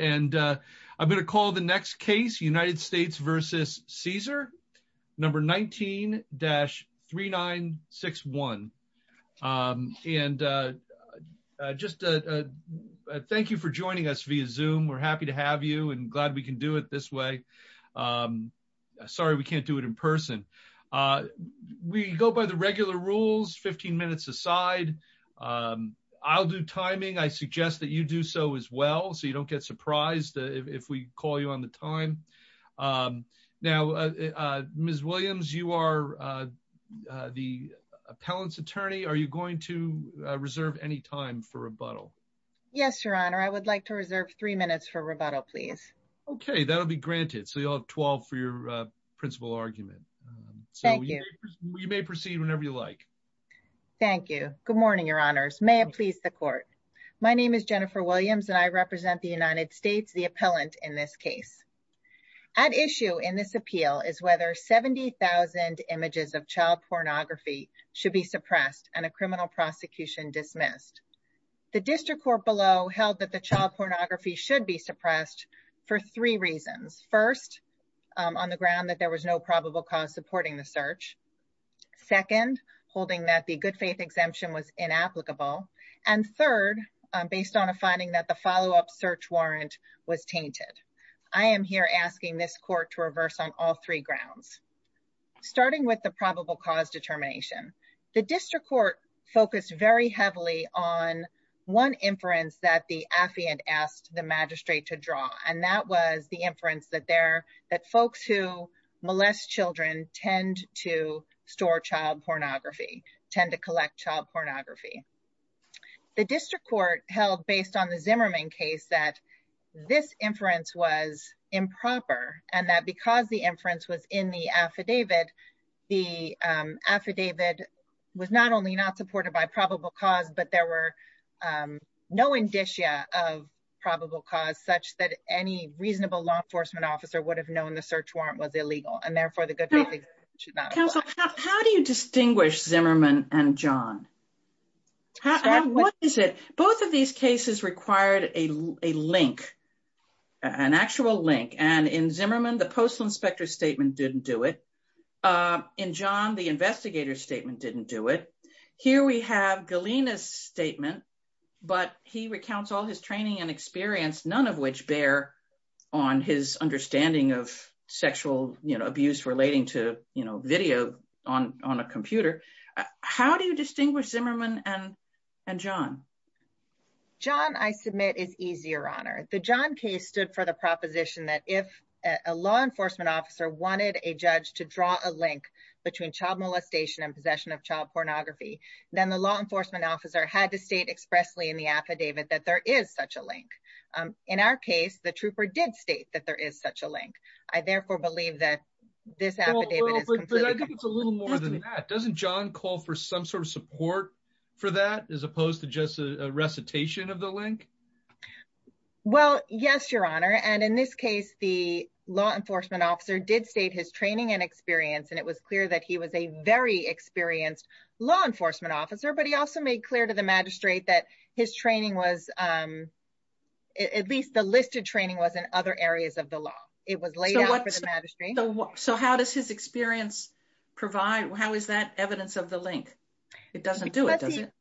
And I'm going to call the next case United States versus Caesar number 19-3961. And just thank you for joining us via zoom. We're happy to have you and glad we can do it this way. Sorry, we can't do it in person. We go by the regular rules 15 minutes aside. I'll do timing, I suggest that you do so as well. So you don't get surprised if we call you on the time. Now, Ms. Williams, you are the appellant's attorney, are you going to reserve any time for rebuttal? Yes, Your Honor, I would like to reserve three minutes for rebuttal, please. Okay, that'll be granted. So you'll have 12 for your principal argument. So you may proceed whenever you like. Thank you. Good morning, Your Honors. May it please the court. My name is Jennifer Williams, and I represent the United States, the appellant in this case. At issue in this appeal is whether 70,000 images of child pornography should be suppressed and a criminal prosecution dismissed. The district court below held that the child pornography should be suppressed for three reasons. First, on the ground that there was no probable cause supporting the search. Second, holding that the good faith exemption was inapplicable. And third, based on a finding that the follow-up search warrant was tainted. I am here asking this court to reverse on all three grounds. Starting with the probable cause determination, the district court focused very heavily on one inference that the affiant asked the magistrate to draw. And that was the store child pornography, tend to collect child pornography. The district court held based on the Zimmerman case that this inference was improper. And that because the inference was in the affidavit, the affidavit was not only not supported by probable cause, but there were no indicia of probable cause such that any reasonable law enforcement officer would have the search warrant was illegal. And therefore, the good faith exemption should not apply. How do you distinguish Zimmerman and John? Both of these cases required a link, an actual link. And in Zimmerman, the postal inspector statement didn't do it. In John, the investigator statement didn't do it. Here we have Galena's statement, but he recounts all his training and experience, none of which bear on his understanding of sexual abuse relating to video on a computer. How do you distinguish Zimmerman and John? John, I submit, is easier on her. The John case stood for the proposition that if a law enforcement officer wanted a judge to draw a link between child molestation and possession of child pornography, then the law enforcement officer had to state expressly in the affidavit that there is such a link. In our case, the trooper did state that there is such a link. I therefore believe that this affidavit is completely... I think it's a little more than that. Doesn't John call for some sort of support for that as opposed to just a recitation of the link? Well, yes, your honor. And in this case, the law enforcement officer did state his training and experience. And it was clear that he was a very experienced law enforcement officer, but he also made clear to the magistrate that his training was... At least the listed training was in other areas of the law. It was laid out for the magistrate. So how does his experience provide... How is that evidence of the link? It doesn't do it, does it?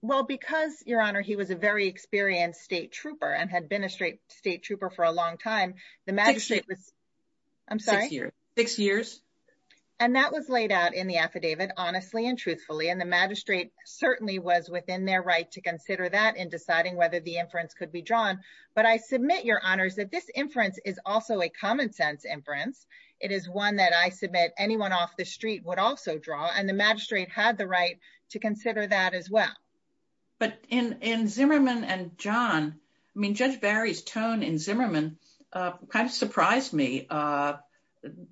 Well, because, your honor, he was a very experienced state trooper and had been a state trooper for a long time, the magistrate was... I'm sorry? Six years. And that was laid out in the affidavit honestly and truthfully. And the magistrate certainly was within their right to consider that in deciding whether the inference could be drawn. But I submit, your honors, that this inference is also a common sense inference. It is one that I submit anyone off the street would also draw, and the magistrate had the right to consider that as well. But in Zimmerman and John, I mean, Judge Barry's tone in Zimmerman kind of surprised me.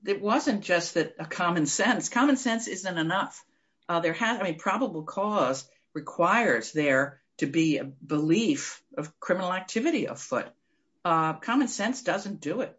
It wasn't just a common sense. Common sense isn't enough. There has... I mean, probable cause requires there to be a belief of criminal activity afoot. Common sense doesn't do it.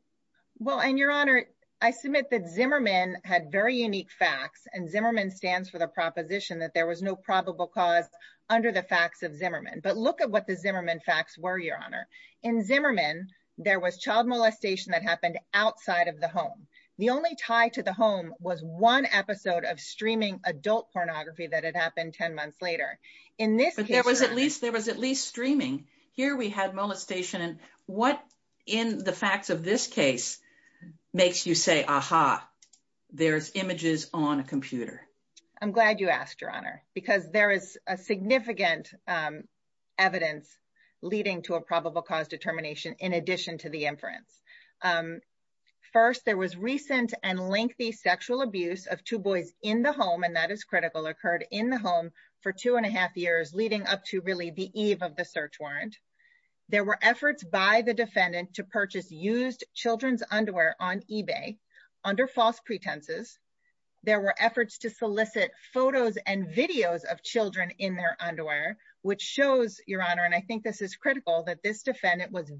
Well, and your honor, I submit that Zimmerman had very unique facts, and Zimmerman stands for the proposition that there was no probable cause under the facts of Zimmerman. But look at what the Zimmerman facts were, your honor. In Zimmerman, there was child molestation that happened outside of the home. The only tie to the home was one episode of streaming adult pornography that had happened 10 months later. In this case... But there was at least streaming. Here we had molestation. And what in the facts of this case makes you say, aha, there's images on a computer? I'm glad you asked, your honor, because there is a significant evidence leading to a probable cause determination in addition to the inference. First, there was recent and lengthy sexual abuse of two boys in the home, and that is critical, occurred in the home for two and a half years leading up to really the eve of the search warrant. There were efforts by the defendant to purchase used children's underwear on eBay under false pretenses. There were efforts to solicit photos and videos of children in their underwear, which shows, your honor, and I think this is critical, that this defendant was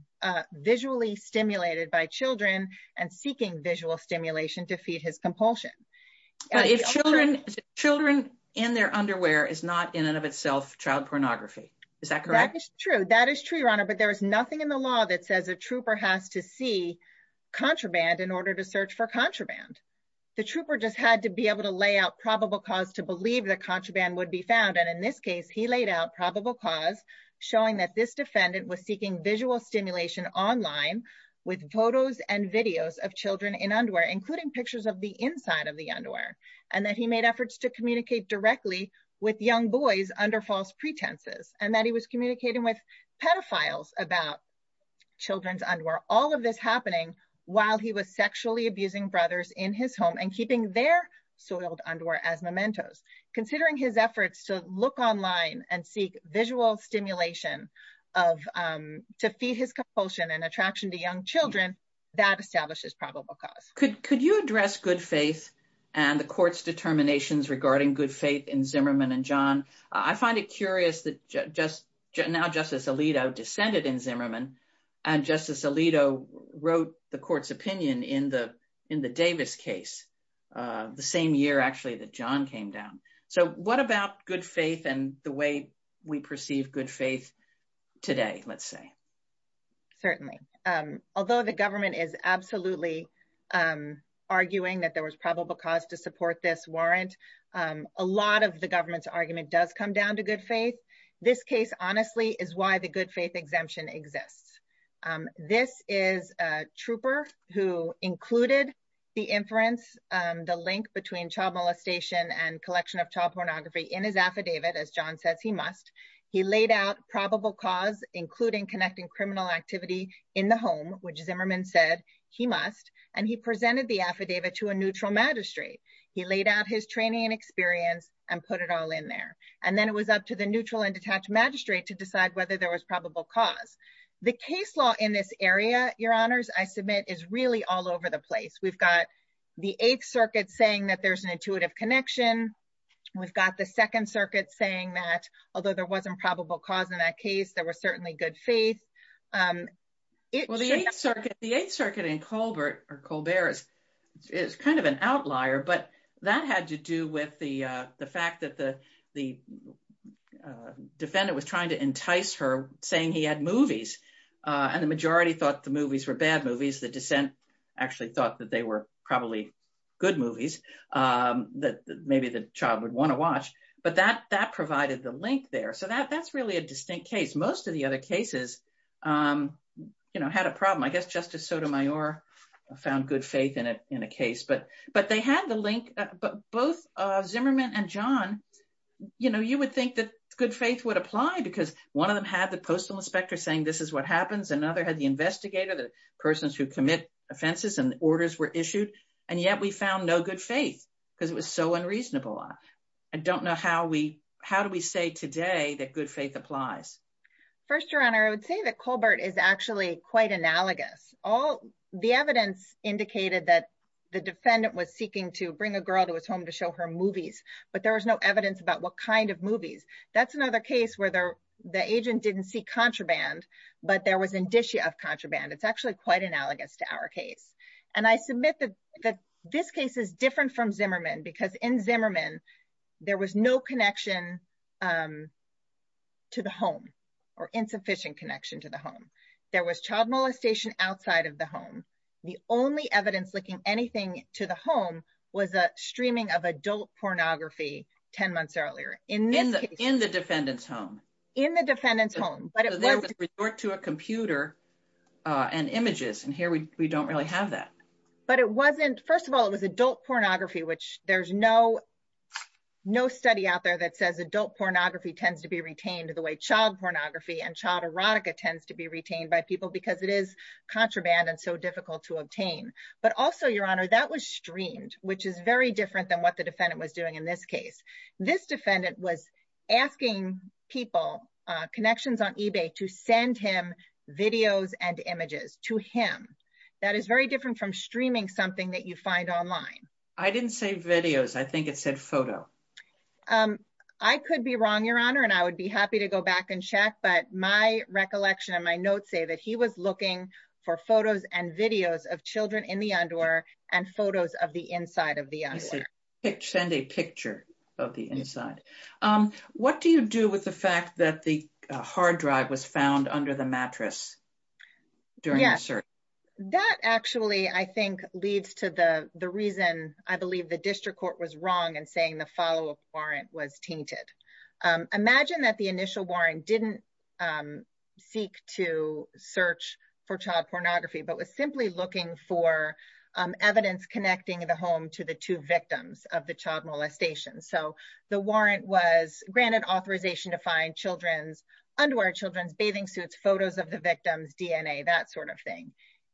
visually stimulated by children and seeking visual stimulation to feed his compulsion. Children in their underwear is not in and of itself child pornography. Is that correct? That is true. That is true, your honor. But there is nothing in the law that says a trooper has to see contraband in order to search for contraband. The trooper just had to be able to lay out probable cause to believe that contraband would be found, and in this case, he laid out probable cause showing that this defendant was seeking visual stimulation online with photos and videos of children in underwear, including pictures of the inside of the underwear, and that he made efforts to communicate directly with young boys under false pretenses, and that he was communicating with pedophiles about children's underwear, all of this happening while he was sexually abusing brothers in his home and keeping their soiled underwear as mementos. Considering his efforts to look online and seek visual stimulation to feed his compulsion and attraction to young children, that establishes probable cause. Could you address good faith and the court's determinations regarding good faith in Zimmerman and John? I find it curious that now Justice Alito descended in Zimmerman, and Justice Alito wrote the court's opinion in the Davis case, the same year actually that John came down. So what about good faith and the way we perceive good faith today, let's say? Certainly. Although the government is absolutely arguing that there was probable cause to support this warrant, a lot of the government's argument does come down to exists. This is a trooper who included the inference, the link between child molestation and collection of child pornography in his affidavit, as John says he must. He laid out probable cause, including connecting criminal activity in the home, which Zimmerman said he must, and he presented the affidavit to a neutral magistrate. He laid out his training and experience and put it all in there. And then it was up to the neutral and detached magistrate to cause. The case law in this area, Your Honors, I submit is really all over the place. We've got the Eighth Circuit saying that there's an intuitive connection. We've got the Second Circuit saying that although there wasn't probable cause in that case, there was certainly good faith. Well, the Eighth Circuit in Colbert is kind of an outlier, but that had to do with the fact that the saying he had movies, and the majority thought the movies were bad movies. The dissent actually thought that they were probably good movies that maybe the child would want to watch. But that provided the link there. So that's really a distinct case. Most of the other cases had a problem. I guess Justice Sotomayor found good faith in a case, but they had the link. But both Zimmerman and John, you would think that good faith would apply because one of them had the postal inspector saying this is what happens. Another had the investigator, the persons who commit offenses, and the orders were issued. And yet we found no good faith because it was so unreasonable. I don't know how we, how do we say today that good faith applies? First, Your Honor, I would say that Colbert is actually quite analogous. All the evidence indicated that the defendant was seeking to bring a girl to his home to show her movies, but there was no evidence about what kind of movies. That's another case where the agent didn't seek contraband, but there was indicia of contraband. It's actually quite analogous to our case. And I submit that this case is different from Zimmerman because in Zimmerman, there was no connection to the home or insufficient connection to the home. There was child molestation outside of the home. The only evidence linking anything to the home was a streaming of pornography. In the defendant's home? In the defendant's home. But there was resort to a computer and images, and here we don't really have that. But it wasn't, first of all, it was adult pornography, which there's no study out there that says adult pornography tends to be retained the way child pornography and child erotica tends to be retained by people because it is contraband and so difficult to obtain. But also, Your Honor, that was streamed, which is very different than what the defendant was doing in this case. This defendant was asking people, connections on eBay, to send him videos and images to him. That is very different from streaming something that you find online. I didn't say videos. I think it said photo. I could be wrong, Your Honor, and I would be happy to go back and check, but my recollection and my notes say that he was looking for photos and videos of children in the underwear and photos of the inside of the underwear. Send a picture of the inside. What do you do with the fact that the hard drive was found under the mattress during the search? That actually, I think, leads to the reason I believe the district court was wrong in saying the follow-up warrant was tainted. Imagine that the initial warrant didn't seek to search for child pornography, but was simply looking for evidence connecting the home to the two victims of the child molestation. So, the warrant was granted authorization to find children's underwear, children's bathing suits, photos of the victim's DNA, that sort of thing.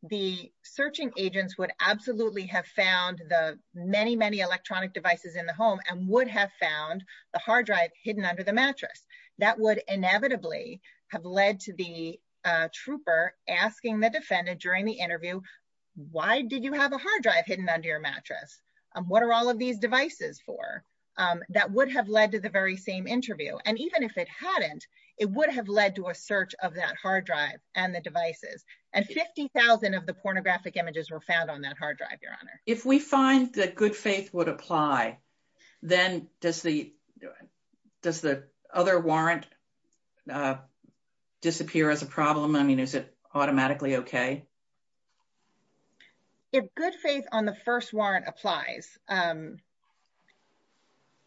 The searching agents would absolutely have found the many, many electronic devices in the home and would have found the hard drive hidden under the mattress. That would inevitably have led to the trooper asking the defendant during the interview, why did you have a hard drive hidden under your mattress? What are all of these devices for? That would have led to the very same interview. And even if it hadn't, it would have led to a search of that hard drive and the devices. And 50,000 of the pornographic images were found on that hard drive, Your Honor. If we find that good faith would apply, then does the other warrant disappear as a problem? I mean, is it automatically okay? If good faith on the first warrant applies,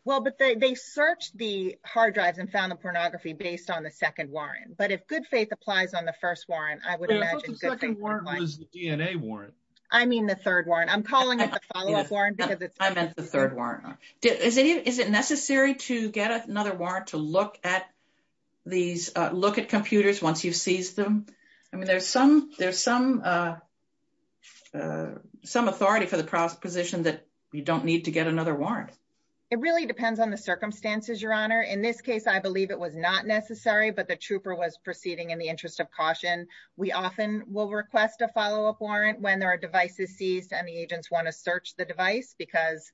well, but they searched the hard drives and found the pornography based on the second warrant. But if good faith applies on the first warrant, I would imagine good faith would apply. The second warrant was the DNA warrant. I mean, the third warrant. I'm calling it the follow-up warrant because it's- I meant the third warrant. Is it necessary to get another warrant to look at these, look at computers once you've seized them? I mean, there's some authority for the proposition that you don't need to get another warrant. It really depends on the circumstances, Your Honor. In this case, I believe it was not necessary, but the trooper was proceeding in the office. We often will request a follow-up warrant when there are devices seized and the agents want to search the device because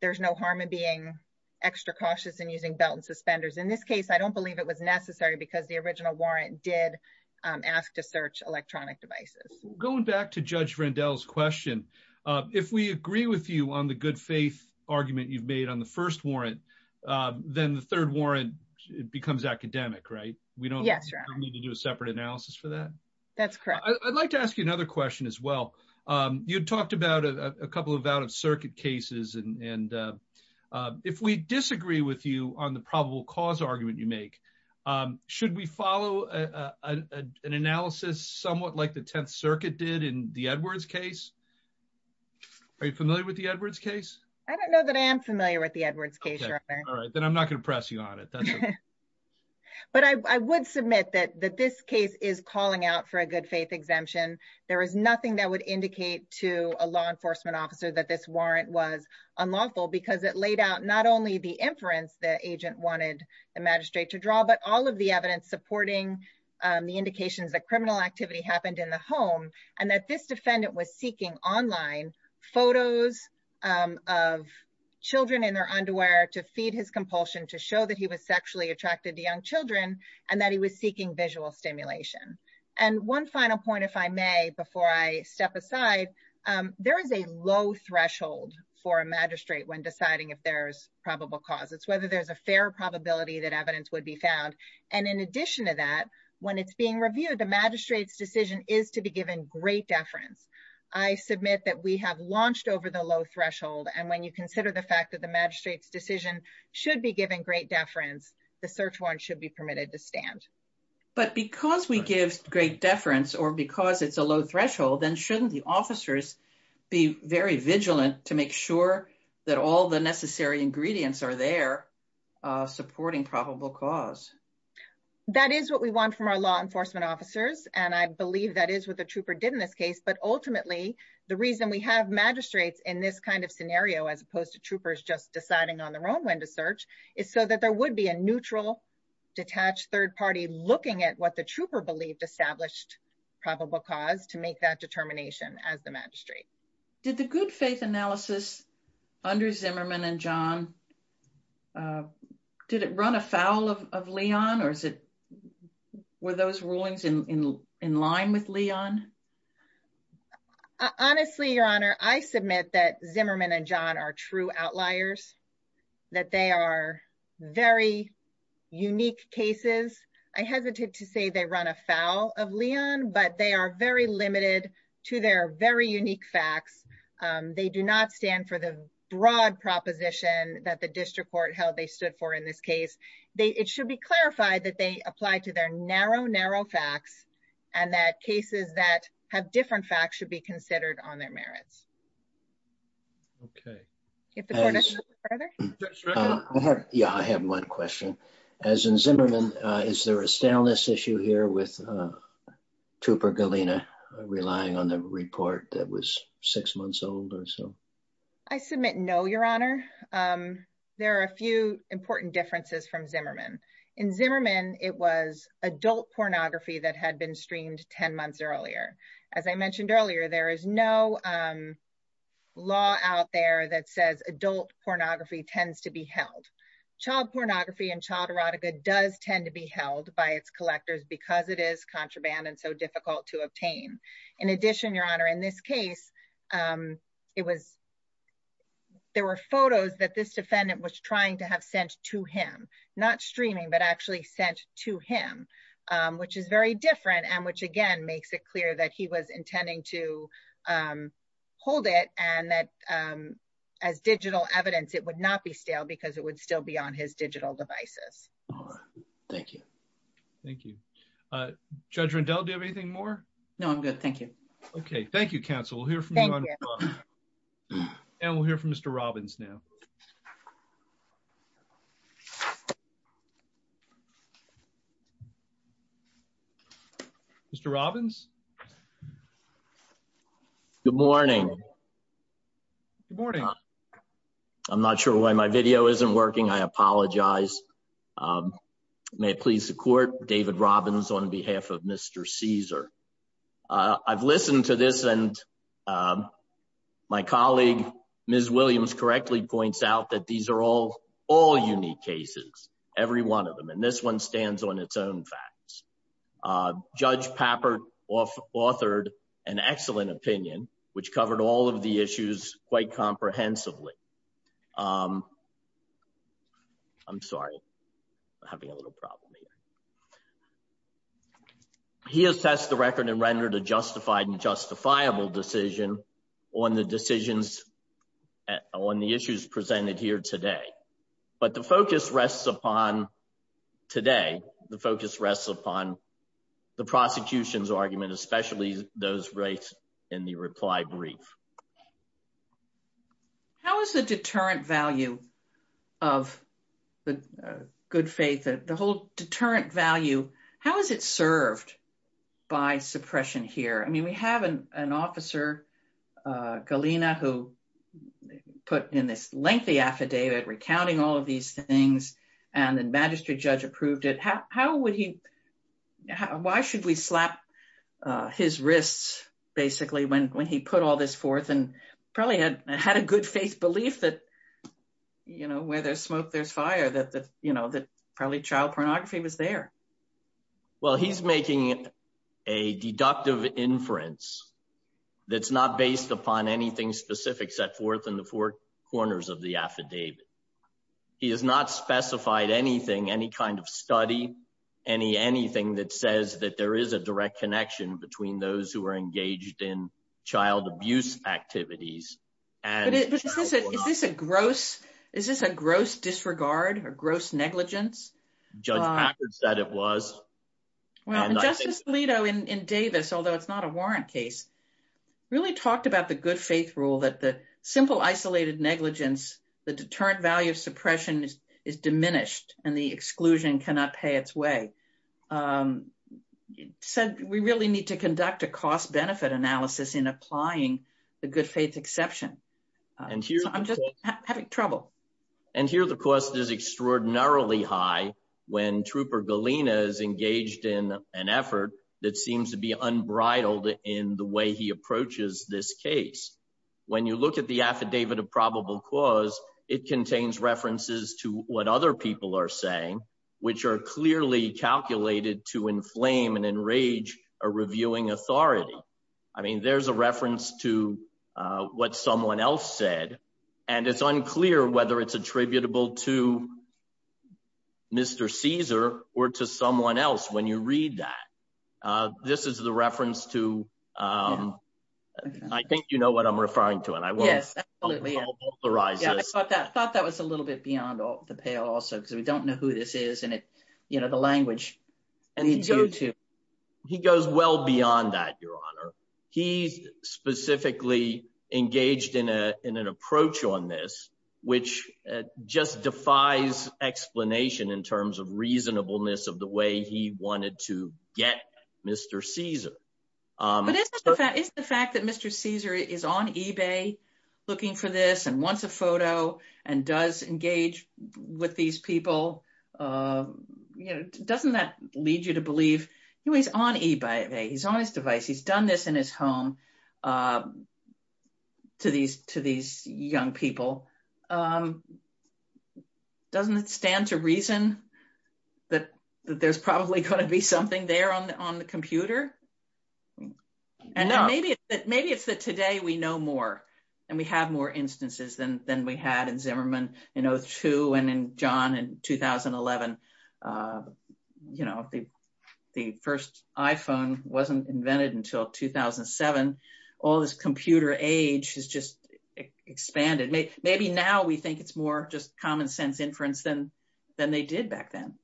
there's no harm in being extra cautious and using belt and suspenders. In this case, I don't believe it was necessary because the original warrant did ask to search electronic devices. Going back to Judge Randall's question, if we agree with you on the good faith argument you've made on the first warrant, then the third warrant becomes academic, right? We don't need to do a separate analysis for that? That's correct. I'd like to ask you another question as well. You talked about a couple of out-of-circuit cases, and if we disagree with you on the probable cause argument you make, should we follow an analysis somewhat like the Tenth Circuit did in the Edwards case? Are you familiar with the Edwards case? I don't know that I am familiar with the Edwards case, Your Honor. All right, then I'm not going to press you on it. But I would submit that this case is calling out for a good faith exemption. There is nothing that would indicate to a law enforcement officer that this warrant was unlawful because it laid out not only the inference the agent wanted the magistrate to draw, but all of the evidence supporting the indications that criminal activity happened in the home and that this defendant was seeking online photos of children in their underwear to feed his sexually attracted young children, and that he was seeking visual stimulation. And one final point, if I may, before I step aside, there is a low threshold for a magistrate when deciding if there's probable cause. It's whether there's a fair probability that evidence would be found. And in addition to that, when it's being reviewed, the magistrate's decision is to be given great deference. I submit that we have launched over the low threshold, and when you consider the fact that the magistrate's decision should be given great deference, the search warrant should be permitted to stand. But because we give great deference or because it's a low threshold, then shouldn't the officers be very vigilant to make sure that all the necessary ingredients are there supporting probable cause? That is what we want from our law enforcement officers, and I believe that is what the trooper did in this case. But ultimately, the reason we have magistrates in this kind of scenario, as opposed to troopers just deciding on their own when to search, is so that there would be a neutral, detached third party looking at what the trooper believed established probable cause to make that determination as the magistrate. Did the good faith analysis under Zimmerman and John, did it run afoul of Leon or were those rulings in line with Leon? Honestly, Your Honor, I submit that Zimmerman and John are true outliers, that they are very unique cases. I hesitate to say they run afoul of Leon, but they are very limited to their very unique facts. They do not stand for the broad proposition that the district court held they stood for in this case. It should be clarified that they apply to their narrow, narrow facts, and that cases that have different facts should be considered on their merits. Yeah, I have one question. As in Zimmerman, is there a staleness issue here with Trooper Galena relying on the report that was six months old or so? I submit no, Your Honor. There are a few important differences from Zimmerman. In Zimmerman, it was adult pornography that had been streamed 10 months earlier. As I mentioned earlier, there is no law out there that says adult pornography tends to be held. Child pornography and child erotica does tend to be held by its collectors because it is contraband and so difficult to obtain. In addition, Your Honor, in this case, there were photos that this defendant was trying to have sent to him, not streaming, but actually sent to him, which is very different and which, again, makes it clear that he was intending to hold it and that as digital evidence, it would not be stale because it would still be on his digital devices. Thank you. Thank you. Judge Rendell, do you have anything more? No, I'm good. Thank you. Okay. Thank you, counsel. We'll hear from you. And we'll hear from Mr. Robbins now. Mr. Robbins? Good morning. Good morning. I'm not sure why my video isn't working. I apologize. May it please the court, David Robbins on behalf of Mr. Caesar. I've listened to this and my colleague, Ms. Williams, correctly points out that these are all unique cases, every one of them, and this one stands on its own facts. Judge Pappert authored an excellent opinion, which covered all of the issues quite comprehensively. I'm sorry, I'm having a little problem here. He assessed the record and rendered a justified and justifiable decision on the decisions, on the issues presented here today. But the focus rests upon today, the focus rests upon the prosecution's argument, especially those rates in the reply brief. How is the deterrent value of the good faith, the whole deterrent value, how is it served by suppression here? I mean, we have an officer, Galena, who put in this lengthy affidavit recounting all of these things, and the magistrate judge approved it. Why should we slap his wrists, basically, when he put all this forth and probably had a good faith belief that, you know, where there's smoke, there's fire, that probably child pornography was there. Well, he's making a deductive inference that's not based upon anything specific set forth in the four corners of the affidavit. He has not specified anything, any kind of study, anything that says that there is a direct connection between those who are engaged in child abuse activities. But is this a gross disregard or gross negligence? Judge Packard said it was. Well, Justice Alito in Davis, although it's not a warrant case, really talked about the good faith rule that the simple isolated negligence, the deterrent value of suppression is diminished, and the exclusion cannot pay its way. Said we really need to conduct a cost-benefit analysis in applying the good faith exception. I'm just having trouble. And here the cost is extraordinarily high when Trooper Galina is engaged in an effort that seems to be unbridled in the way he approaches this case. When you look at the affidavit of probable cause, it contains references to what other people are saying, which are clearly calculated to inflame and enrage a reviewing authority. I mean, there's a reference to what someone else said, and it's unclear whether it's attributable to Mr. Caesar or to someone else when you read that. This is the reference to, I think you know what I'm referring to, and I won't authorize this. Yes, absolutely. I thought that was a little bit beyond the pale also, because we don't know who this is, and the language needs to go to. He goes well beyond that, Your Honor. He's specifically engaged in an approach on this, which just defies explanation in terms of reasonableness of the way he wanted to get Mr. Caesar. But isn't the fact that Mr. Caesar is on eBay looking for this and wants a photo and does engage with these people, doesn't that lead you to believe, he's on eBay, he's on his device, he's done this in his home to these young people. Doesn't it stand to reason that there's probably going to be something there on the computer? No. And maybe it's that today we know more and we have more instances than we had in Zimmerman in 2002 and in John in 2011. The first iPhone wasn't invented until 2007. All this computer age has just expanded. Maybe now we think it's more just common sense inference than they did back then.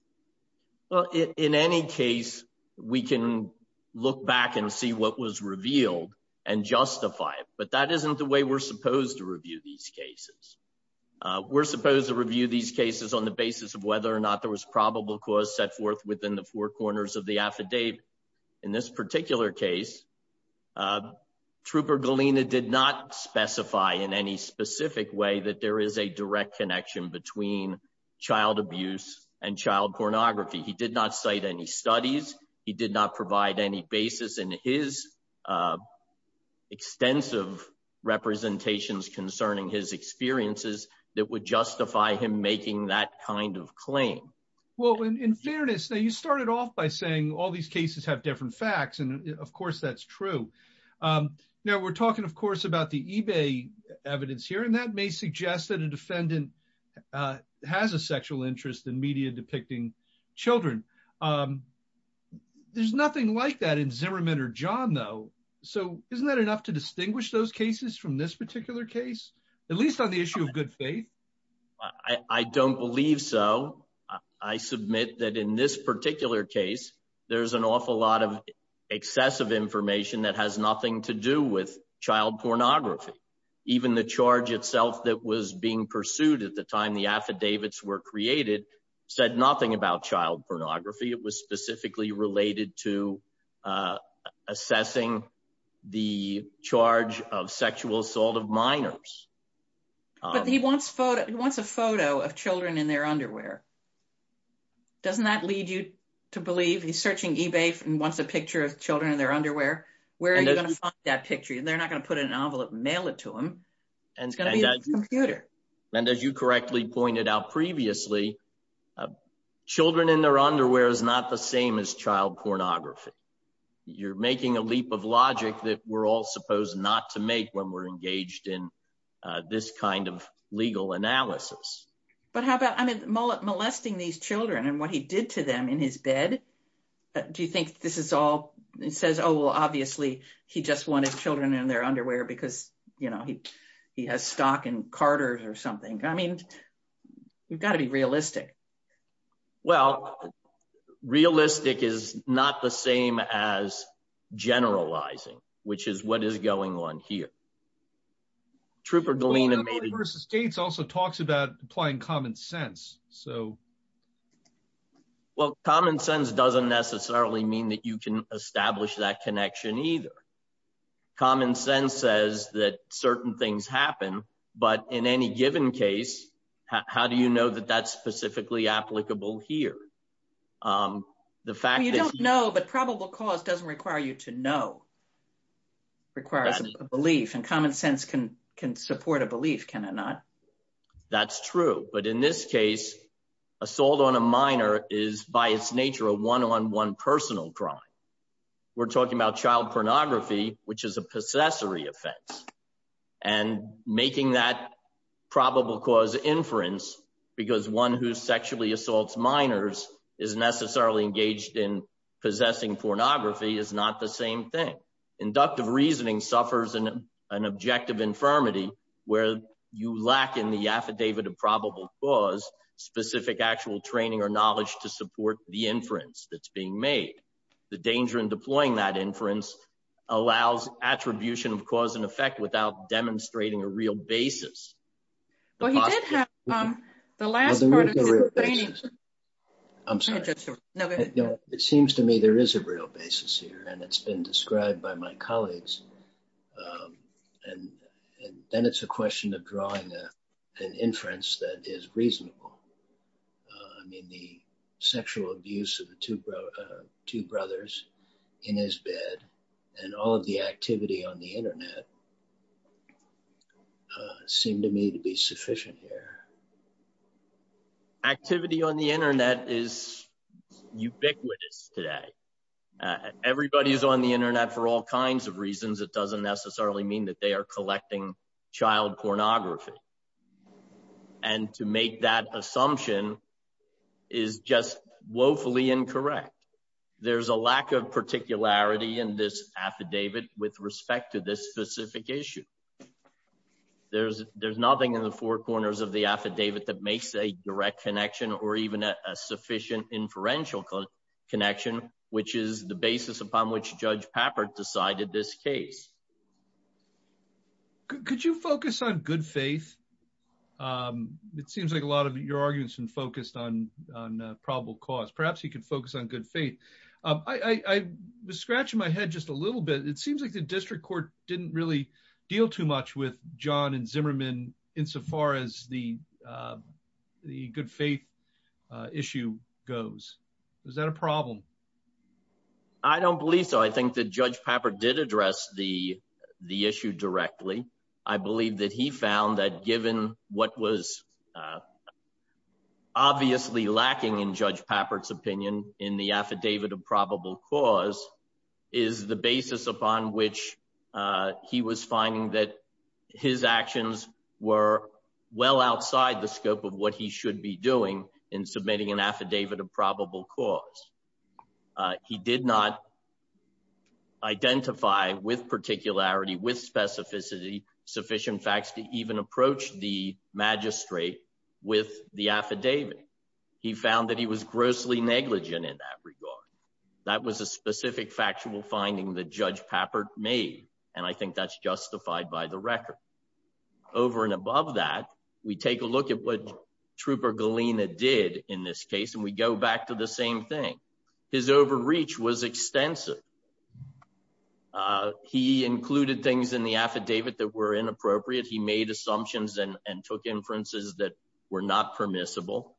Well, in any case, we can look back and see what was revealed and justify it. But that isn't the way we're supposed to review these cases. We're supposed to review these cases on the basis of whether or not there was probable cause set forth within the four corners of the affidavit. In this particular case, Trooper Galina did not specify in any specific way that there is a direct connection between child abuse and child pornography. He did not cite any studies. He did not provide any basis in his extensive representations concerning his experiences that would justify him making that kind of claim. Well, in fairness, you started off by saying all these cases have different facts. And of course, that's true. Now, we're talking, of course, about the eBay evidence here. And that may suggest that a defendant has a sexual interest in media depicting children. There's nothing like that in Zimmerman or John, though. So isn't that enough to distinguish those cases from this particular case, at least on the issue of good faith? I don't believe so. I submit that in this particular case, there's an awful lot of excessive information that has nothing to do with child pornography. Even the charge itself that was being pursued at the time the affidavits were created said nothing about child pornography. It was specifically related to assessing the charge of sexual assault of minors. But he wants a photo of children in their underwear. Doesn't that lead you to believe he's searching eBay and wants a picture of children in their underwear? Where are you going to find that picture? They're not going to put an envelope and mail it to him. It's going to be on the computer. And as you correctly pointed out previously, children in their underwear is not the same as child pornography. You're making a leap of logic that we're all supposed not to make when we're engaged in this kind of legal analysis. But how about molesting these children and what he did to them in his bed? Do you think this is all, it says, oh, well, obviously, he just wanted children in their underwear because he has stock in Carter's or something. I mean, you've got to be realistic. Well, realistic is not the same as generalizing, which is what is going on here. Trooper Galina versus states also talks about applying common sense. So. Well, common sense doesn't necessarily mean that you can establish that connection either. Common sense says that certain things happen. But in any given case, how do you know that that's specifically applicable here? The fact that you don't know, but probable cause doesn't require you to know. Requires belief and common sense can can support a belief, can it not? That's true. But in this case, assault on a minor is by its nature a one on one personal crime. We're talking about child pornography, which is a possessory offense. And making that probable cause inference, because one who sexually assaults minors is necessarily engaged in possessing pornography is not the same thing. Inductive reasoning suffers in an objective infirmity where you lack in the affidavit of probable cause specific actual training or knowledge to support the inference that's being made. The danger in deploying that inference allows attribution of cause and effect without demonstrating a real basis. Well, he did have the last part of his training. I'm sorry. It seems to me there is a real basis here, and it's been described by my colleagues. And then it's a question of drawing an inference that is reasonable. I mean, the sexual abuse of two brothers in his bed and all of the activity on the Internet seem to me to be sufficient here. Activity on the Internet is ubiquitous today. Everybody is on the Internet for all kinds of reasons. It doesn't necessarily mean that they are collecting child pornography. And to make that assumption is just woefully incorrect. There's a lack of particularity in this affidavit with respect to this specific issue. There's nothing in the four corners of the affidavit that makes a direct connection or even a sufficient inferential connection, which is the basis upon which Judge Pappert decided this case. Could you focus on good faith? It seems like a lot of your arguments have been focused on probable cause. Perhaps he could focus on good faith. I was scratching my head just a little bit. It seems like the district court didn't really deal too much with John and Zimmerman insofar as the good faith issue goes. Is that a problem? I don't believe so. I think that Judge Pappert did address the issue directly. I believe that he found that given what was obviously lacking in Judge Pappert's opinion in the affidavit of probable cause is the basis upon which he was finding that his actions were well outside the scope of what he should be doing in submitting an affidavit of probable cause. He did not identify with particularity, with specificity, sufficient facts to even approach the magistrate with the affidavit. He found that he was grossly negligent in that regard. That was a specific factual finding that Judge Pappert made, and I think that's justified by the record. Over and above that, we take a look at what Trooper Galena did in this case, we go back to the same thing. His overreach was extensive. He included things in the affidavit that were inappropriate. He made assumptions and took inferences that were not permissible.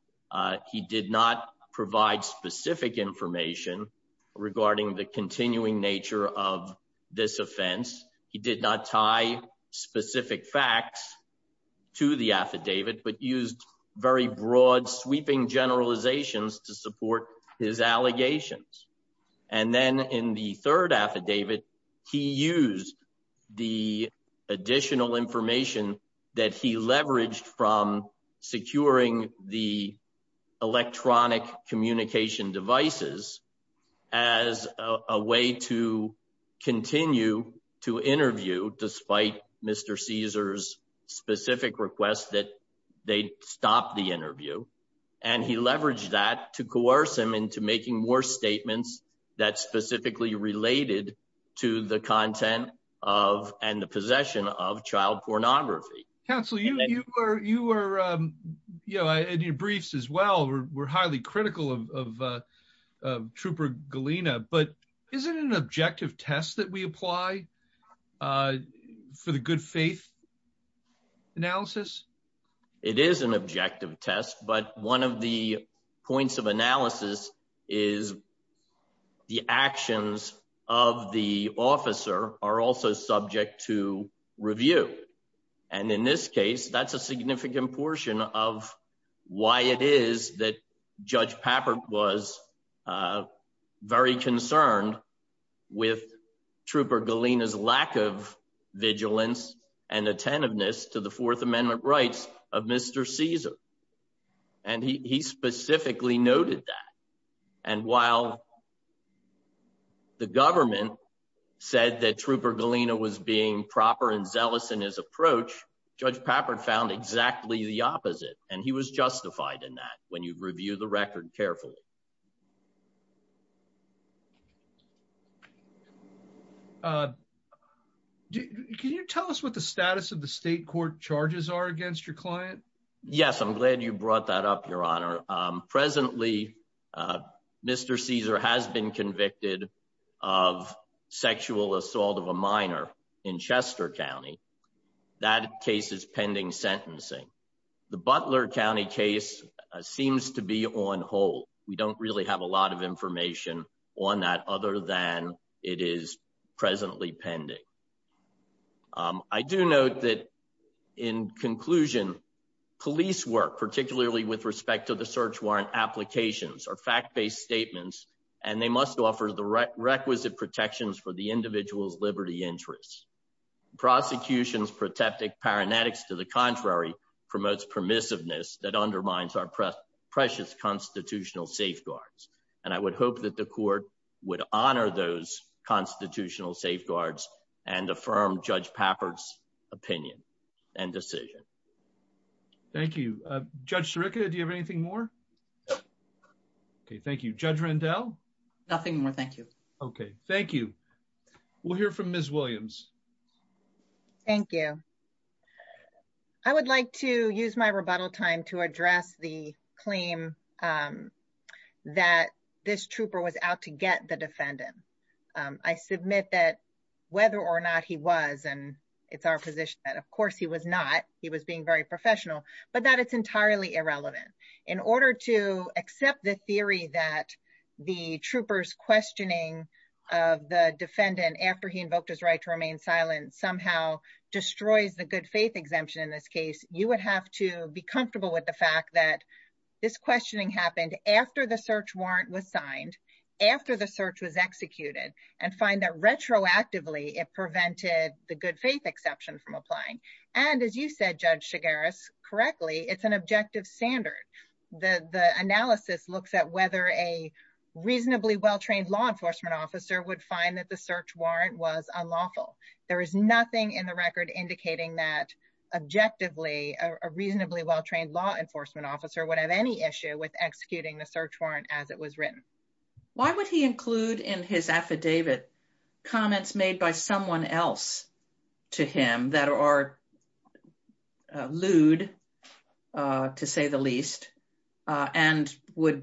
He did not provide specific information regarding the continuing nature of this offense. He did not tie specific facts to the affidavit, but used very broad, sweeping generalizations to support his allegations. And then in the third affidavit, he used the additional information that he leveraged from securing the electronic communication devices as a way to continue to interview, despite Mr. Caesar's specific request that they stop the interview. And he leveraged that to coerce him into making more statements that specifically related to the content of and the possession of child pornography. Counselor, you were, you know, in your briefs as well, we're highly critical of Trooper Galena, but is it an objective test that we apply for the good faith analysis? It is an objective test, but one of the points of analysis is the actions of the officer are also subject to review. And in this case, that's a significant portion of why it is that Judge Pappert was very concerned with Trooper Galena's lack of vigilance and attentiveness to the Fourth Amendment rights of Mr. Caesar. And he specifically noted that. And while the government said that Trooper Galena was being proper and zealous in his approach, Judge Pappert found exactly the opposite. And he was justified in that when you've reviewed the record carefully. Uh, can you tell us what the status of the state court charges are against your client? Yes, I'm glad you brought that up, Your Honor. Presently, Mr. Caesar has been convicted of sexual assault of a minor in Chester County. That case is pending sentencing. The Butler County case seems to be on hold. We don't really have a lot of information on that other than it is presently pending. I do note that in conclusion, police work, particularly with respect to the search warrant applications or fact-based statements, and they must offer the requisite protections for the individual's liberty interests. Prosecutions protecting paramedics to the contrary, promotes permissiveness that undermines our precious constitutional safeguards. And I would hope that the court would honor those constitutional safeguards and affirm Judge Pappert's opinion and decision. Thank you. Judge Sirica, do you have anything more? Okay, thank you. Judge Rendell? Nothing more. Thank you. Okay, thank you. We'll hear from Ms. Williams. Thank you. I would like to use my rebuttal time to address the claim that this trooper was out to get the defendant. I submit that whether or not he was, and it's our position that of course he was not, he was being very professional, but that it's entirely irrelevant. In order to accept the theory that the trooper's questioning of the defendant after he invoked his right to remain silent somehow destroys the good faith exemption in this case, you would have to be comfortable with the fact that this questioning happened after the search warrant was signed, after the search was executed, and find that retroactively it prevented the good faith exception from applying. And as you said, Judge Shigaris, correctly, it's an objective standard. The analysis looks at whether a reasonably well-trained law enforcement officer would find that the search warrant was unlawful. There is nothing in the record indicating that objectively a reasonably well-trained law enforcement officer would have any issue with executing the search warrant as it was written. Why would he include in his affidavit comments made by someone else to him that are lewd, to say the least, and would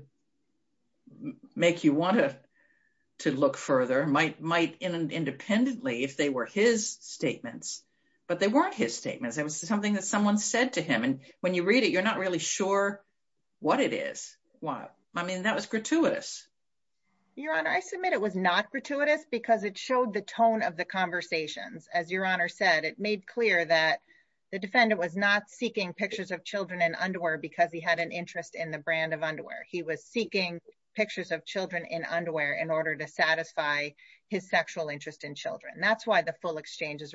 make you want to look further, might independently if they were his statements, but they weren't his statements. It was something that someone said to him, and when you read it, you're not really sure what it is. I mean, that was gratuitous. Your Honor, I submit it was not gratuitous because it showed the tone of the conversations. As Your Honor said, it made clear that the defendant was not seeking pictures of children in underwear because he had an interest in the brand of underwear. He was seeking pictures of children in underwear in order to satisfy his sexual interest in children. That's why the full statements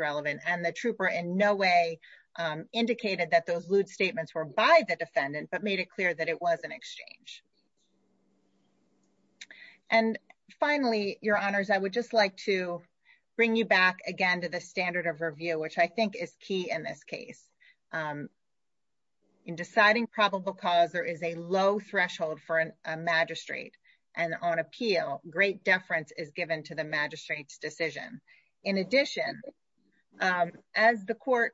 were by the defendant, but made it clear that it was an exchange. Finally, Your Honors, I would just like to bring you back again to the standard of review, which I think is key in this case. In deciding probable cause, there is a low threshold for a magistrate, and on appeal, great deference is given to the magistrate's decision. In addition, as the court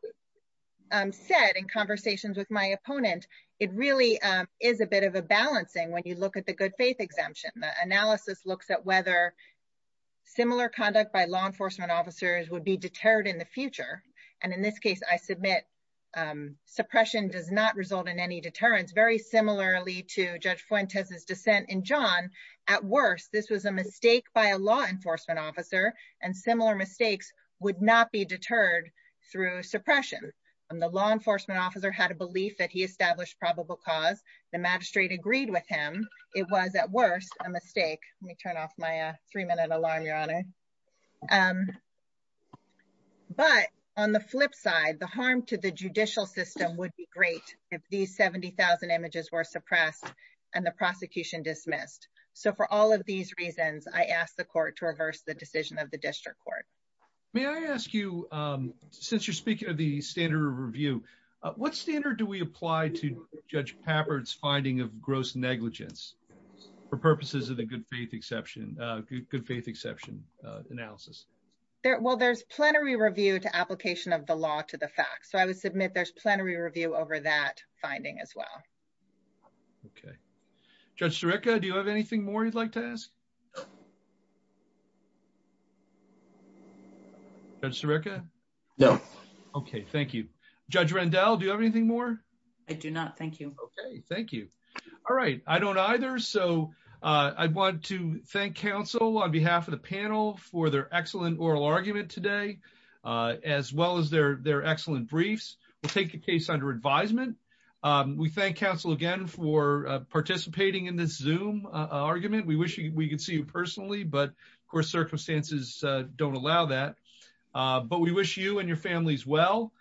said in conversations with my opponent, it really is a bit of a balancing when you look at the good faith exemption. The analysis looks at whether similar conduct by law enforcement officers would be deterred in the future, and in this case, I submit suppression does not result in any deterrence, very similarly to Judge Fuentes' dissent in John. At worst, this was a mistake by a law enforcement officer, and similar mistakes would not be deterred through suppression. The law enforcement officer had a belief that he established probable cause. The magistrate agreed with him. It was, at worst, a mistake. Let me turn off my three-minute alarm, Your Honor. But on the flip side, the harm to the judicial system would be great if these 70,000 images were suppressed and the prosecution dismissed. So for all of these reasons, I ask the court to reverse the decision of the district court. May I ask you, since you're speaking of the standard of review, what standard do we apply to Judge Pappard's finding of gross negligence for purposes of the good faith exception analysis? Well, there's plenary review to application of the law to the facts, so I would submit there's a standard of review for the judge's finding as well. Okay. Judge Sirica, do you have anything more you'd like to ask? Judge Sirica? No. Okay, thank you. Judge Rendell, do you have anything more? I do not, thank you. Okay, thank you. All right, I don't either, so I want to thank counsel on behalf of the panel for their excellent oral argument today, as well as their excellent briefs. We'll take the case under advisement. We thank counsel again for participating in this Zoom argument. We wish we could see you personally, but of course circumstances don't allow that. But we wish you and your families well,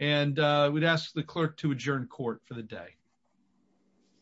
and we'd ask the clerk to adjourn court for the day.